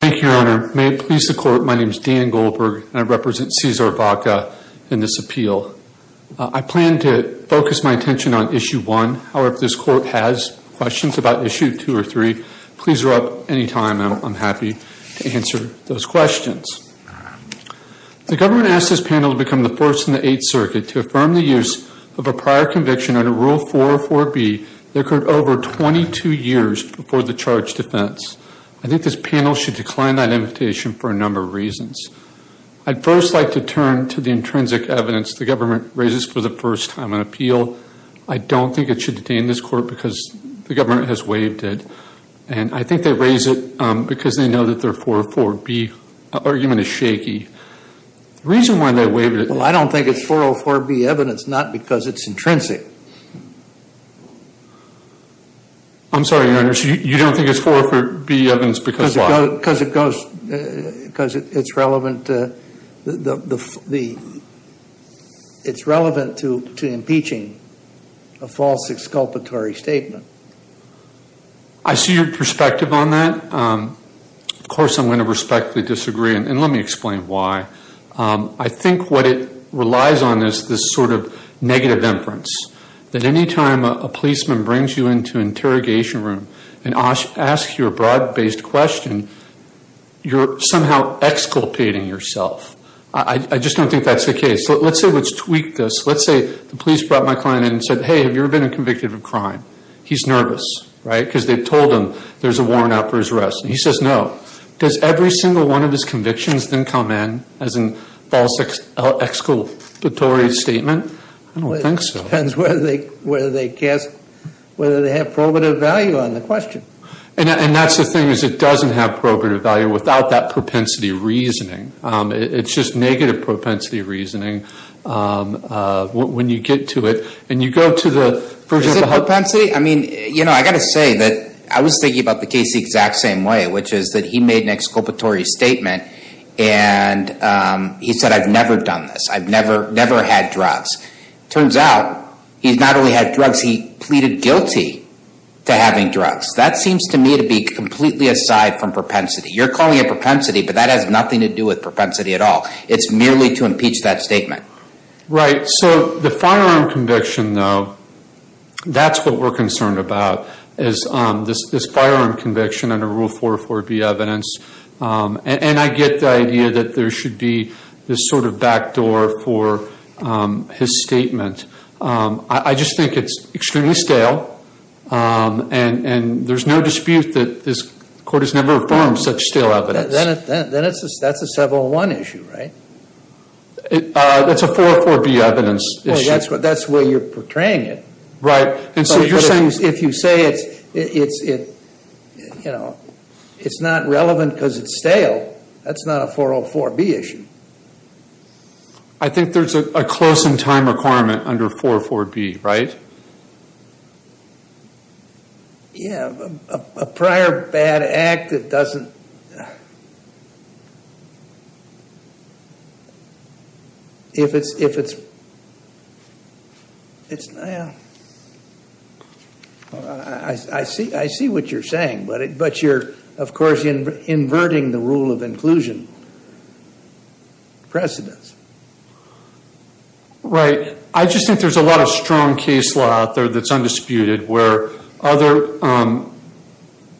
Thank you, Your Honor. May it please the Court, my name is Dan Goldberg, and I represent Caesar Vaca in this appeal. I plan to focus my attention on Issue 1. However, if this Court has questions about Issue 2 or 3, please erupt any time. I'm happy to answer those questions. The government asked this panel to become the first in the Eighth Circuit to affirm the use of a prior conviction under Rule 404B that occurred over 22 years before the charge I think this panel should decline that invitation for a number of reasons. I'd first like to turn to the intrinsic evidence the government raises for the first time in appeal. I don't think it should detain this Court because the government has waived it, and I think they raise it because they know that their 404B argument is shaky. The reason why they waived it... Well, I don't think it's 404B evidence, not because it's intrinsic. I'm sorry, Your Honor, so you don't think it's 404B evidence because why? Because it goes... Because it's relevant to... It's relevant to impeaching a false exculpatory statement. I see your perspective on that. Of course, I'm going to respectfully disagree, and let me explain why. I think what it relies on is this sort of negative inference, that any time a policeman brings you into an interrogation room and asks you a bribe-based question, you're somehow exculpating yourself. I just don't think that's the case. Let's say let's tweak this. Let's say the police brought my client in and said, hey, have you ever been convicted of a crime? He's nervous, right, because they've told him there's a warrant out for his arrest, and he says no. Does every single one of his convictions then come in as a false exculpatory statement? I don't think so. It depends whether they cast... whether they have probative value on the question. And that's the thing, is it doesn't have probative value without that propensity reasoning. It's just negative propensity reasoning when you get to it, and you go to the... Is it propensity? I mean, you know, I got to say that I was thinking about the case the exact same way, which is that he made an exculpatory statement, and he said, I've never done this. I've never had drugs. Turns out, he's not only had drugs, he pleaded guilty to having drugs. That seems to me to be completely aside from propensity. You're calling it propensity, but that has nothing to do with propensity at all. It's merely to impeach that statement. Right. So the firearm conviction, though, that's what we're concerned about, is this firearm conviction under Rule 404B evidence. And I get the idea that there should be this sort of backdoor for his statement. I just think it's extremely stale, and there's no dispute that this court has never affirmed such stale evidence. Then that's a 701 issue, right? That's a 404B evidence issue. That's where you're portraying it. Right. And so you're saying... If you say it's not relevant because it's stale, that's not a 404B issue. I think there's a close in time requirement under 404B, right? Yeah. A prior bad act that doesn't... If it's... I see what you're saying, but you're, of course, inverting the rule of inclusion precedence. Right. I just think there's a lot of strong case law in this case. That's undisputed. Where other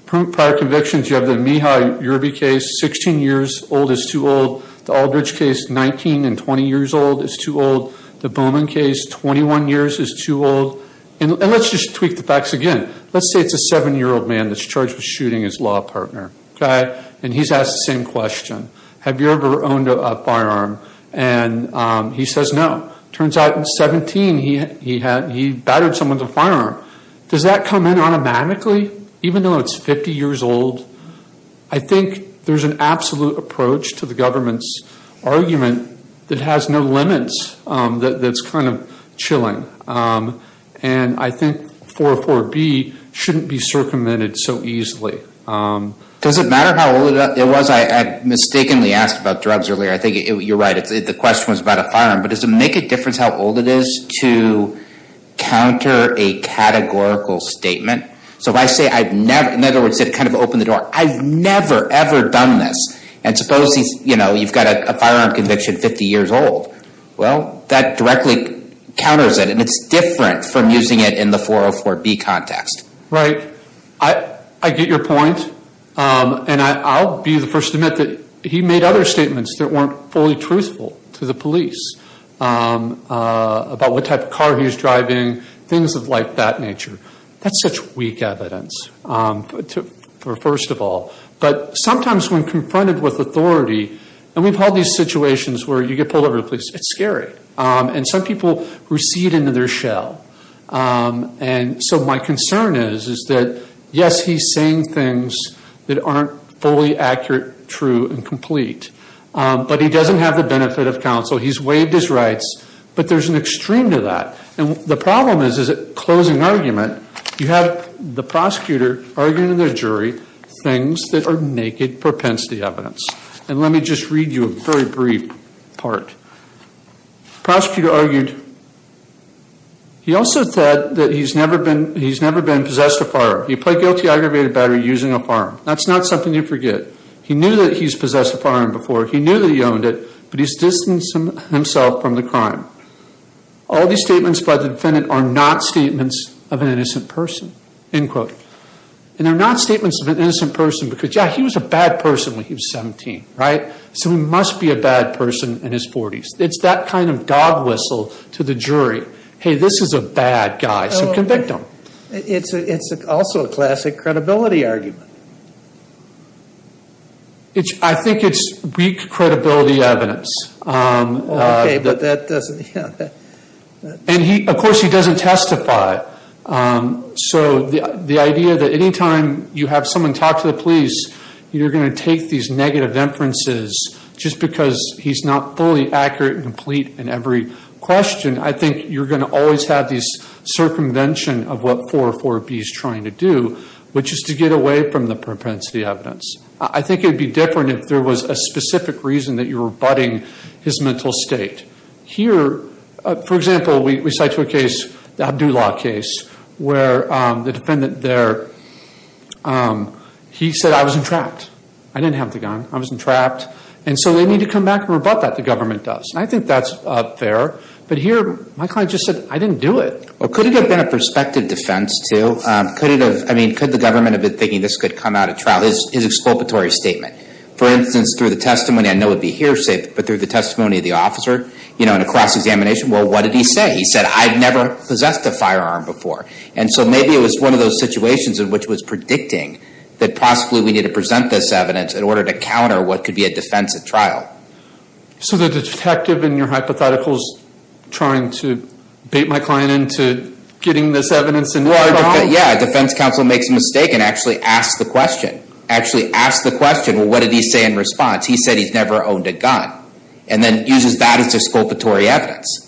prior convictions, you have the Mihaly-Urby case, 16 years old is too old. The Aldridge case, 19 and 20 years old is too old. The Bowman case, 21 years is too old. And let's just tweak the facts again. Let's say it's a seven-year-old man that's charged with shooting his law partner, okay? And he's asked the same question. Have you ever owned a firearm? And he says no. Turns out in 17, he battered someone with a firearm. Does that come in automatically, even though it's 50 years old? I think there's an absolute approach to the government's argument that has no limits, that's kind of chilling. And I think 404B shouldn't be circumvented so easily. Does it matter how old it was? I mistakenly asked about drugs earlier. I think you're right. The question was about a firearm. But does it make a difference how old it is to counter a categorical statement? So if I say, in other words, it kind of opened the door. I've never, ever done this. And suppose you've got a firearm conviction 50 years old. Well, that directly counters it. And it's different from using it in the 404B context. Right. I get your point. And I'll be the first to admit that he made other statements that weren't fully truthful to the police. About what type of car he was driving, things of like that nature. That's such weak evidence, first of all. But sometimes when confronted with authority, and we've had these situations where you get pulled over the police, it's scary. And some people recede into their shell. And so my concern is, is that yes, he's saying things that aren't fully accurate, true, and complete. But he doesn't have the benefit of counsel. He's waived his rights. But there's an extreme to that. And the problem is, is at closing argument, you have the prosecutor arguing to the jury things that are naked propensity evidence. And let me just read you a very brief part. Prosecutor argued, he also said that he's never been possessed a firearm. He played guilty aggravated battery using a firearm. That's not something you forget. He knew that he's possessed a firearm before. He knew that he owned it. But he's distancing himself from the crime. All these statements by the defendant are not statements of an innocent person, end quote. And they're not statements of an innocent person, because yeah, he was a bad person when he was 17, right? So he must be a bad person in his 40s. It's that kind of dog whistle to the jury. Hey, this is a bad guy, so convict him. It's also a classic credibility argument. It's, I think it's weak credibility evidence. Okay, but that doesn't, yeah. And he, of course, he doesn't testify. So the idea that anytime you have someone talk to the police, you're going to take these negative inferences, just because he's not fully accurate and complete in every question. I think you're going to always have these circumvention of what 404B is trying to do, which is to get away from the propensity evidence. I think it'd be different if there was a specific reason that you're rebutting his mental state. Here, for example, we cite to a case, the Abdulah case, where the defendant there, he said, I was entrapped. I didn't have the gun. I was entrapped. And so they need to come back and rebut that, the government does. And I think that's fair. But here, my client just said, I didn't do it. Well, could it have been a prospective defense, too? I mean, could the government have been thinking this could come out at trial, his exculpatory statement? For instance, through the testimony, I know it'd be hearsay, but through the testimony of the officer, you know, in a cross-examination, well, what did he say? He said, I've never possessed a firearm before. And so maybe it was one of those situations in which was predicting that possibly we need to present this evidence in order to counter what could be a defense at trial. So the detective in your hypothetical is trying to bait my client into getting this evidence? Yeah, defense counsel makes a mistake and actually asks the question. Actually asks the question, well, what did he say in response? He said he's never owned a gun. And then uses that as exculpatory evidence.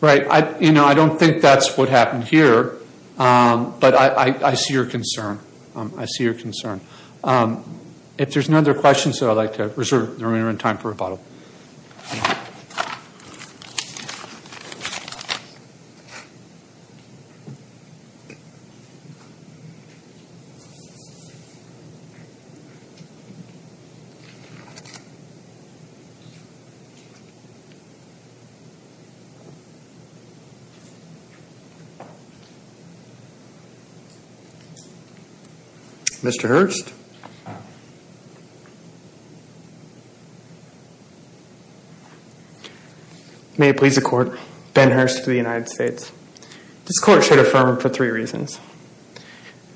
Right, you know, I don't think that's what happened here. But I see your concern. I see your concern. If there's no other questions, I'd like to reserve the remainder of time for rebuttal. Thank you. Mr. Hurst. May it please the court. Ben Hurst for the United States. This court should affirm for three reasons.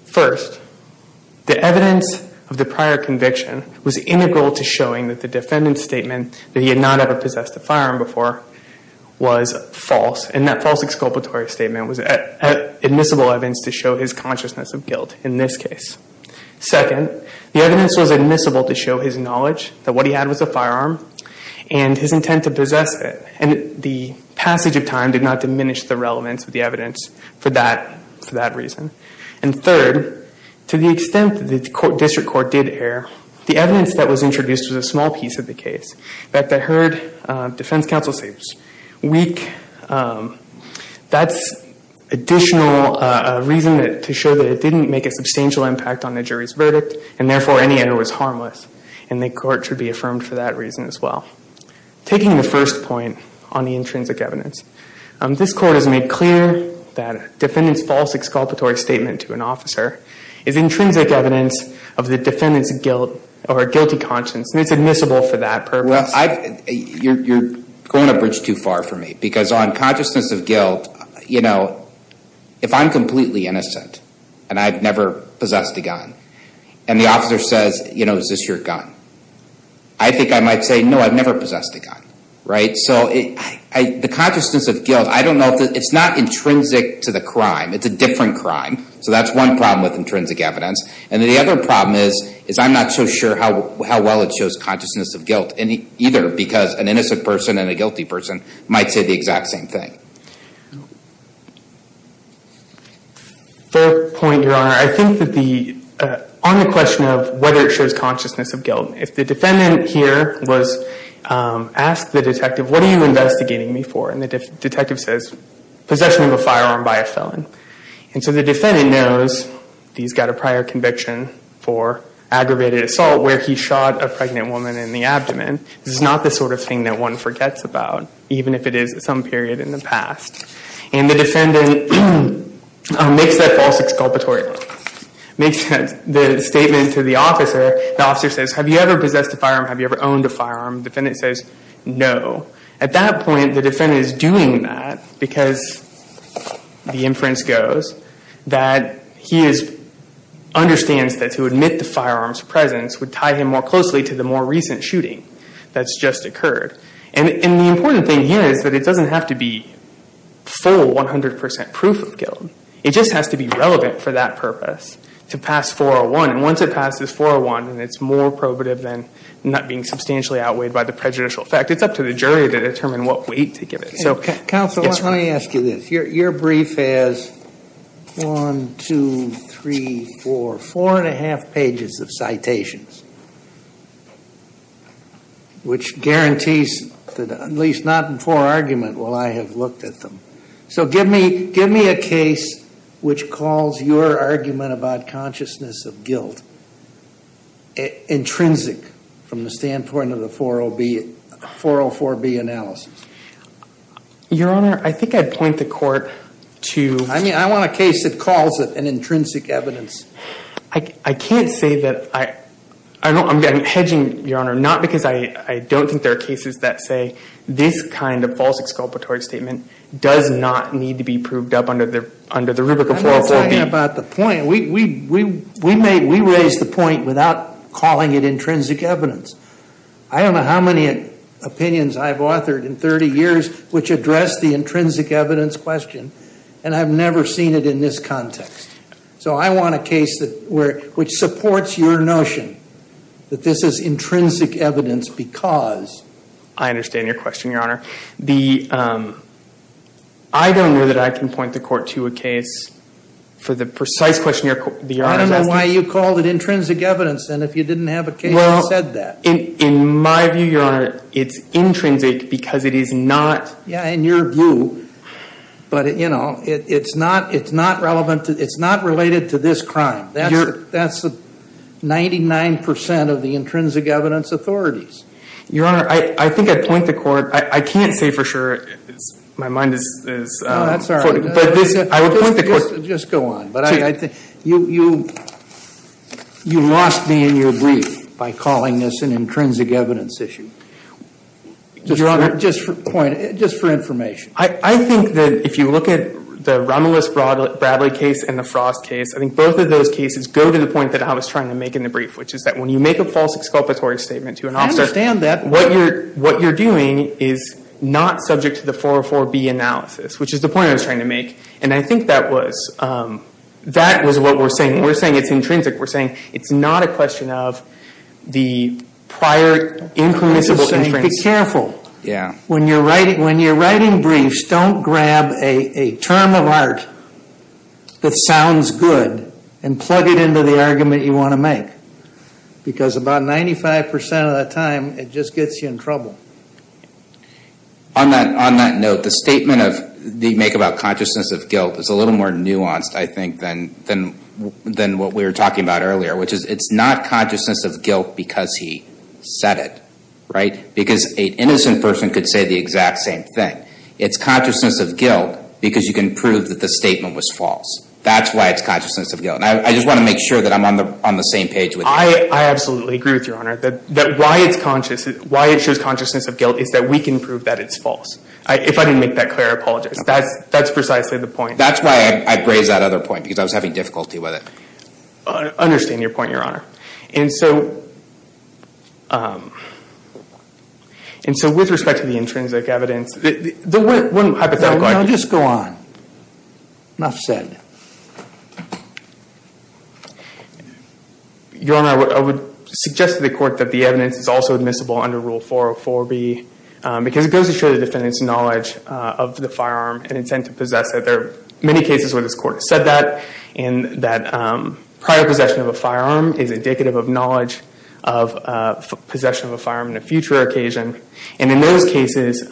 First, the evidence of the prior conviction was integral to showing that the defendant's statement that he had not ever possessed a firearm before was false. And that false exculpatory statement was admissible evidence to show his consciousness of guilt in this case. Second, the evidence was admissible to show his knowledge that what he had was a firearm and his intent to possess it. And the passage of time did not diminish the relevance of the evidence for that reason. And third, to the extent that the district court did err, the evidence that was introduced was a small piece of the case. That the heard defense counsel states weak. That's additional reason to show that it didn't make a substantial impact on the jury's verdict. And therefore, any error was harmless. And the court should be affirmed for that reason as well. Taking the first point on the intrinsic evidence, this court has made clear that defendant's false exculpatory statement to an officer is intrinsic evidence of the defendant's guilt or guilty conscience. And it's admissible for that purpose. Well, you're going a bridge too far for me. Because on consciousness of guilt, you know, if I'm completely innocent and I've never possessed your gun, I think I might say, no, I've never possessed a gun. Right? So the consciousness of guilt, I don't know if it's not intrinsic to the crime. It's a different crime. So that's one problem with intrinsic evidence. And the other problem is, is I'm not so sure how well it shows consciousness of guilt either. Because an innocent person and a guilty person might say the exact same thing. Third point, Your Honor, I think that on the question of whether it shows consciousness of guilt, if the defendant here was asked the detective, what are you investigating me for? And the detective says, possession of a firearm by a felon. And so the defendant knows that he's got a prior conviction for aggravated assault, where he shot a pregnant woman in the abdomen. This is not the sort of thing that one forgets about, even if it is some period in the past. And the defendant makes that false exculpatory. Makes the statement to the officer. The officer says, have you ever possessed a firearm? Have you ever owned a firearm? Defendant says, no. At that point, the defendant is doing that because, the inference goes, that he understands that to admit the firearm's presence would tie him more closely to the more recent shooting that's just occurred. And the important thing here is that it doesn't have to be full 100% proof of guilt. It just has to be relevant for that purpose to pass 401. And once it passes 401, and it's more probative than not being substantially outweighed by the prejudicial effect, it's up to the jury to determine what weight to give it. So counsel, let me ask you this. Your brief has one, two, three, four, four and a half pages of citations. Which guarantees that, at least not in poor argument, will I have looked at them. So give me a case which calls your argument about consciousness of guilt intrinsic from the standpoint of the 404-B analysis. Your Honor, I think I'd point the court to- I mean, I want a case that calls it an intrinsic evidence. I can't say that I- I'm hedging, Your Honor, not because I don't think there are cases that say this kind of false exculpatory statement does not need to be proved up under the rubric of 404-B. I'm not talking about the point. We raised the point without calling it intrinsic evidence. I don't know how many opinions I've authored in 30 years which address the intrinsic evidence question, and I've never seen it in this context. So I want a case that supports your notion that this is intrinsic evidence because- I understand your question, Your Honor. I don't know that I can point the court to a case for the precise question the Your Honor is asking. I don't know why you called it intrinsic evidence, then, if you didn't have a case that said that. Well, in my view, Your Honor, it's intrinsic because it is not- it's not related to this crime. That's 99% of the intrinsic evidence authorities. Your Honor, I think I'd point the court- I can't say for sure. My mind is- Oh, that's all right. But this- I would point the court- Just go on. But I think you- you lost me in your brief by calling this an intrinsic evidence issue. Your Honor, just for point- just for information. I think that if you look at the Romulus Bradley case and the Frost case, I think both of those cases go to the point that I was trying to make in the brief, which is that when you make a false exculpatory statement to an officer- I understand that. What you're- what you're doing is not subject to the 404B analysis, which is the point I was trying to make. And I think that was- that was what we're saying. We're saying it's intrinsic. We're saying it's not a question of the prior impermissible- I'm just saying, be careful. Yeah. When you're writing- when you're writing briefs, don't grab a term of art that sounds good and plug it into the argument you want to make. Because about 95% of the time, it just gets you in trouble. On that- on that note, the statement of- they make about consciousness of guilt is a little more nuanced, I think, than- than- than what we were talking about earlier, which is it's not consciousness of guilt because he said it, right? Because an innocent person could say the exact same thing. It's consciousness of guilt because you can prove that the statement was false. That's why it's consciousness of guilt. I just want to make sure that I'm on the- on the same page with you. I absolutely agree with your honor that- that why it's conscious- why it shows consciousness of guilt is that we can prove that it's false. If I didn't make that clear, I apologize. That's- that's precisely the point. That's why I raised that other point, because I was having difficulty with it. Understand your point, your honor. And so- and so, with respect to the intrinsic evidence, the- the one hypothetical- No, just go on. Enough said. Your honor, I would suggest to the court that the evidence is also admissible under Rule 404b, because it goes to show the defendant's knowledge of the firearm and intent to possess it. There are many cases where this court has said that, and that prior possession of a firearm is indicative of knowledge of possession of a firearm in a future occasion. And in those cases,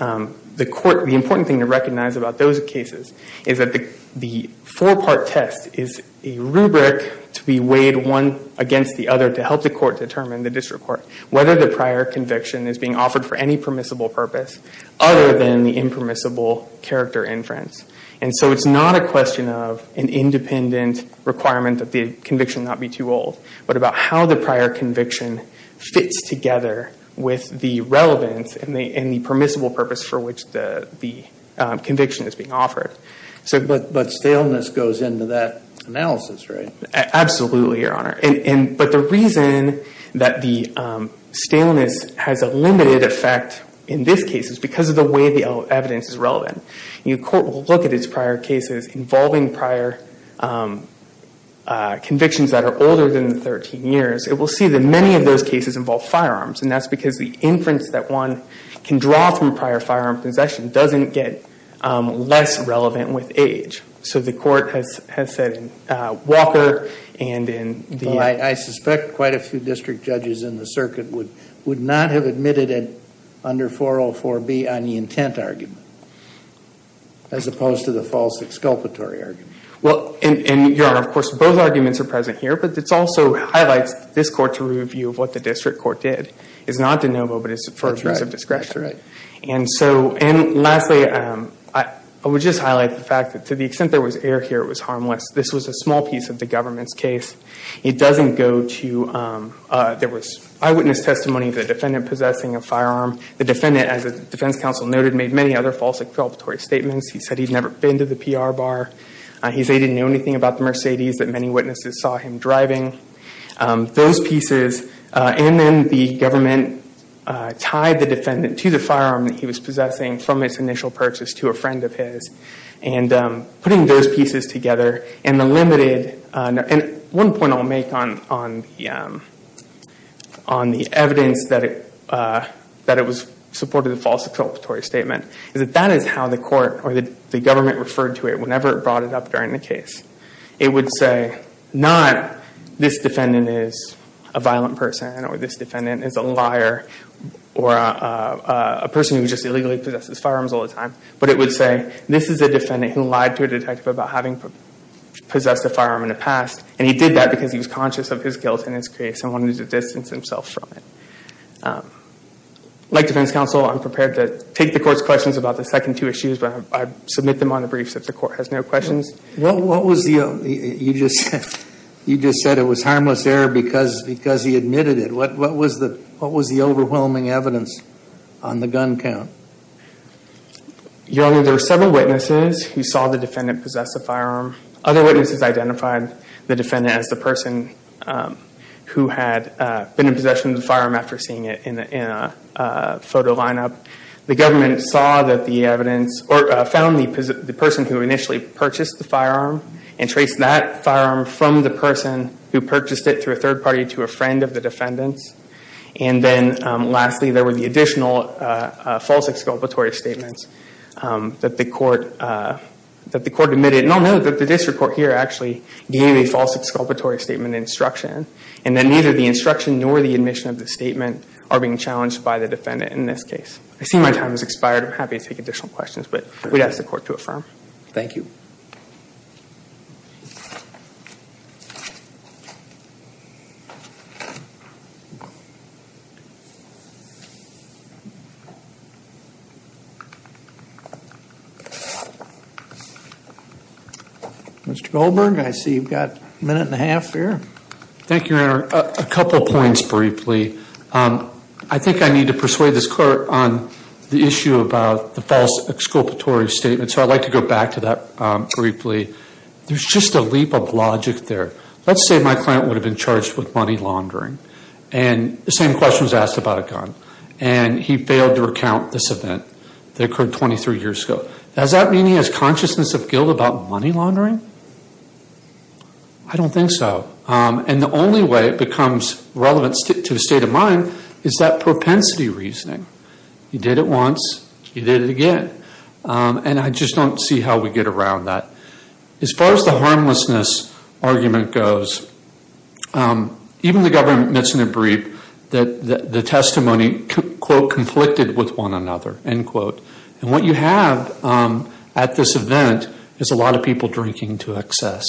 the court- the important thing to recognize about those cases is that the- the four-part test is a rubric to be weighed one against the other to help the court determine, the district court, whether the prior conviction is being offered for any permissible purpose other than the impermissible character inference. And so, it's not a question of an independent requirement that the conviction not be too old, but about how the prior conviction fits together with the relevance and the- and the permissible purpose for which the- the conviction is being offered. So- But- but staleness goes into that analysis, right? Absolutely, your honor. And- and- but the reason that the staleness has a limited effect in this case is because of the way the evidence is relevant. Your court will look at its prior cases involving prior convictions that are older than 13 years. It will see that many of those cases involve firearms, and that's because the inference that one can draw from prior firearm possession doesn't get less relevant with age. So, the court has- has said in Walker and in the- Well, I- I suspect quite a few district judges in the circuit would- would not have admitted it under 404B on the intent argument. As opposed to the false exculpatory argument. Well, and- and your honor, of course, both arguments are present here, but it's also highlights this court's review of what the district court did. It's not de novo, but it's for- That's right. A piece of discretion. That's right. And so- and lastly, I- I would just highlight the fact that to the extent there was error here, it was harmless. This was a small piece of the government's case. It doesn't go to- there was eyewitness testimony of the defendant possessing a firearm. The defendant, as the defense counsel noted, made many other false exculpatory statements. He said he'd never been to the PR bar. He said he didn't know anything about the Mercedes that many witnesses saw him driving. Those pieces, and then the government tied the defendant to the firearm that he was possessing from its initial purchase to a friend of his. And putting those pieces together, and the limited- supported the false exculpatory statement, is that that is how the court, or the government, referred to it whenever it brought it up during the case. It would say, not, this defendant is a violent person, or this defendant is a liar, or a person who just illegally possesses firearms all the time. But it would say, this is a defendant who lied to a detective about having possessed a firearm in the past, and he did that because he was conscious of his guilt in his case and wanted to distance himself from it. Um, like defense counsel, I'm prepared to take the court's questions about the second two issues, but I submit them on the briefs if the court has no questions. What, what was the, you just said, you just said it was harmless error because, because he admitted it. What, what was the, what was the overwhelming evidence on the gun count? Your Honor, there were several witnesses who saw the defendant possess a firearm. Other witnesses identified the defendant as the person um, who had been in possession of the firearm after seeing it in a photo lineup. The government saw that the evidence, or found the person who initially purchased the firearm, and traced that firearm from the person who purchased it through a third party to a friend of the defendant's. And then lastly, there were the additional false exculpatory statements that the court, that the court admitted. And I'll note that the district court here actually gave a false exculpatory statement instruction, and that neither the instruction nor the admission of the statement are being challenged by the defendant in this case. I see my time has expired. I'm happy to take additional questions, but we'd ask the court to affirm. Thank you. Mr. Goldberg, I see you've got a minute and a half here. Thank you, Your Honor. A couple points briefly. I think I need to persuade this court on the issue about the false exculpatory statement. So I'd like to go back to that briefly. There's just a leap of logic there. Let's say my client would have been charged with money laundering. And the same question was asked about a gun. And he failed to recount this event that occurred 23 years ago. Does that mean he has consciousness of guilt about money laundering? I don't think so. And the only way it becomes relevant to his state of mind is that propensity reasoning. He did it once, he did it again. And I just don't see how we get around that. As far as the harmlessness argument goes, even the government admits in a brief that the testimony, quote, conflicted with one another, end quote. And what you have at this event is a lot of people drinking to excess.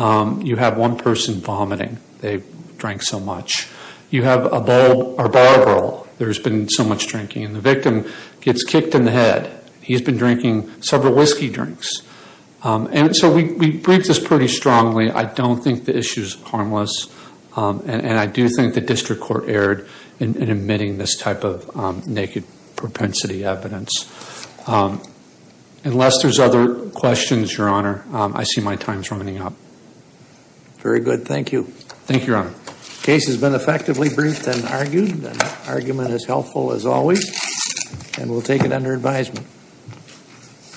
You have one person vomiting. They drank so much. You have a bar girl. There's been so much drinking. And the victim gets kicked in the head. He's been drinking several whiskey drinks. And so we briefed this pretty strongly. I don't think the issue is harmless. And I do think the district court erred in admitting this type of naked propensity evidence. Unless there's other questions, Your Honor, I see my time's running up. Very good. Thank you. Thank you, Your Honor. Case has been effectively briefed and argued. Argument is helpful, as always. And we'll take it under advisement.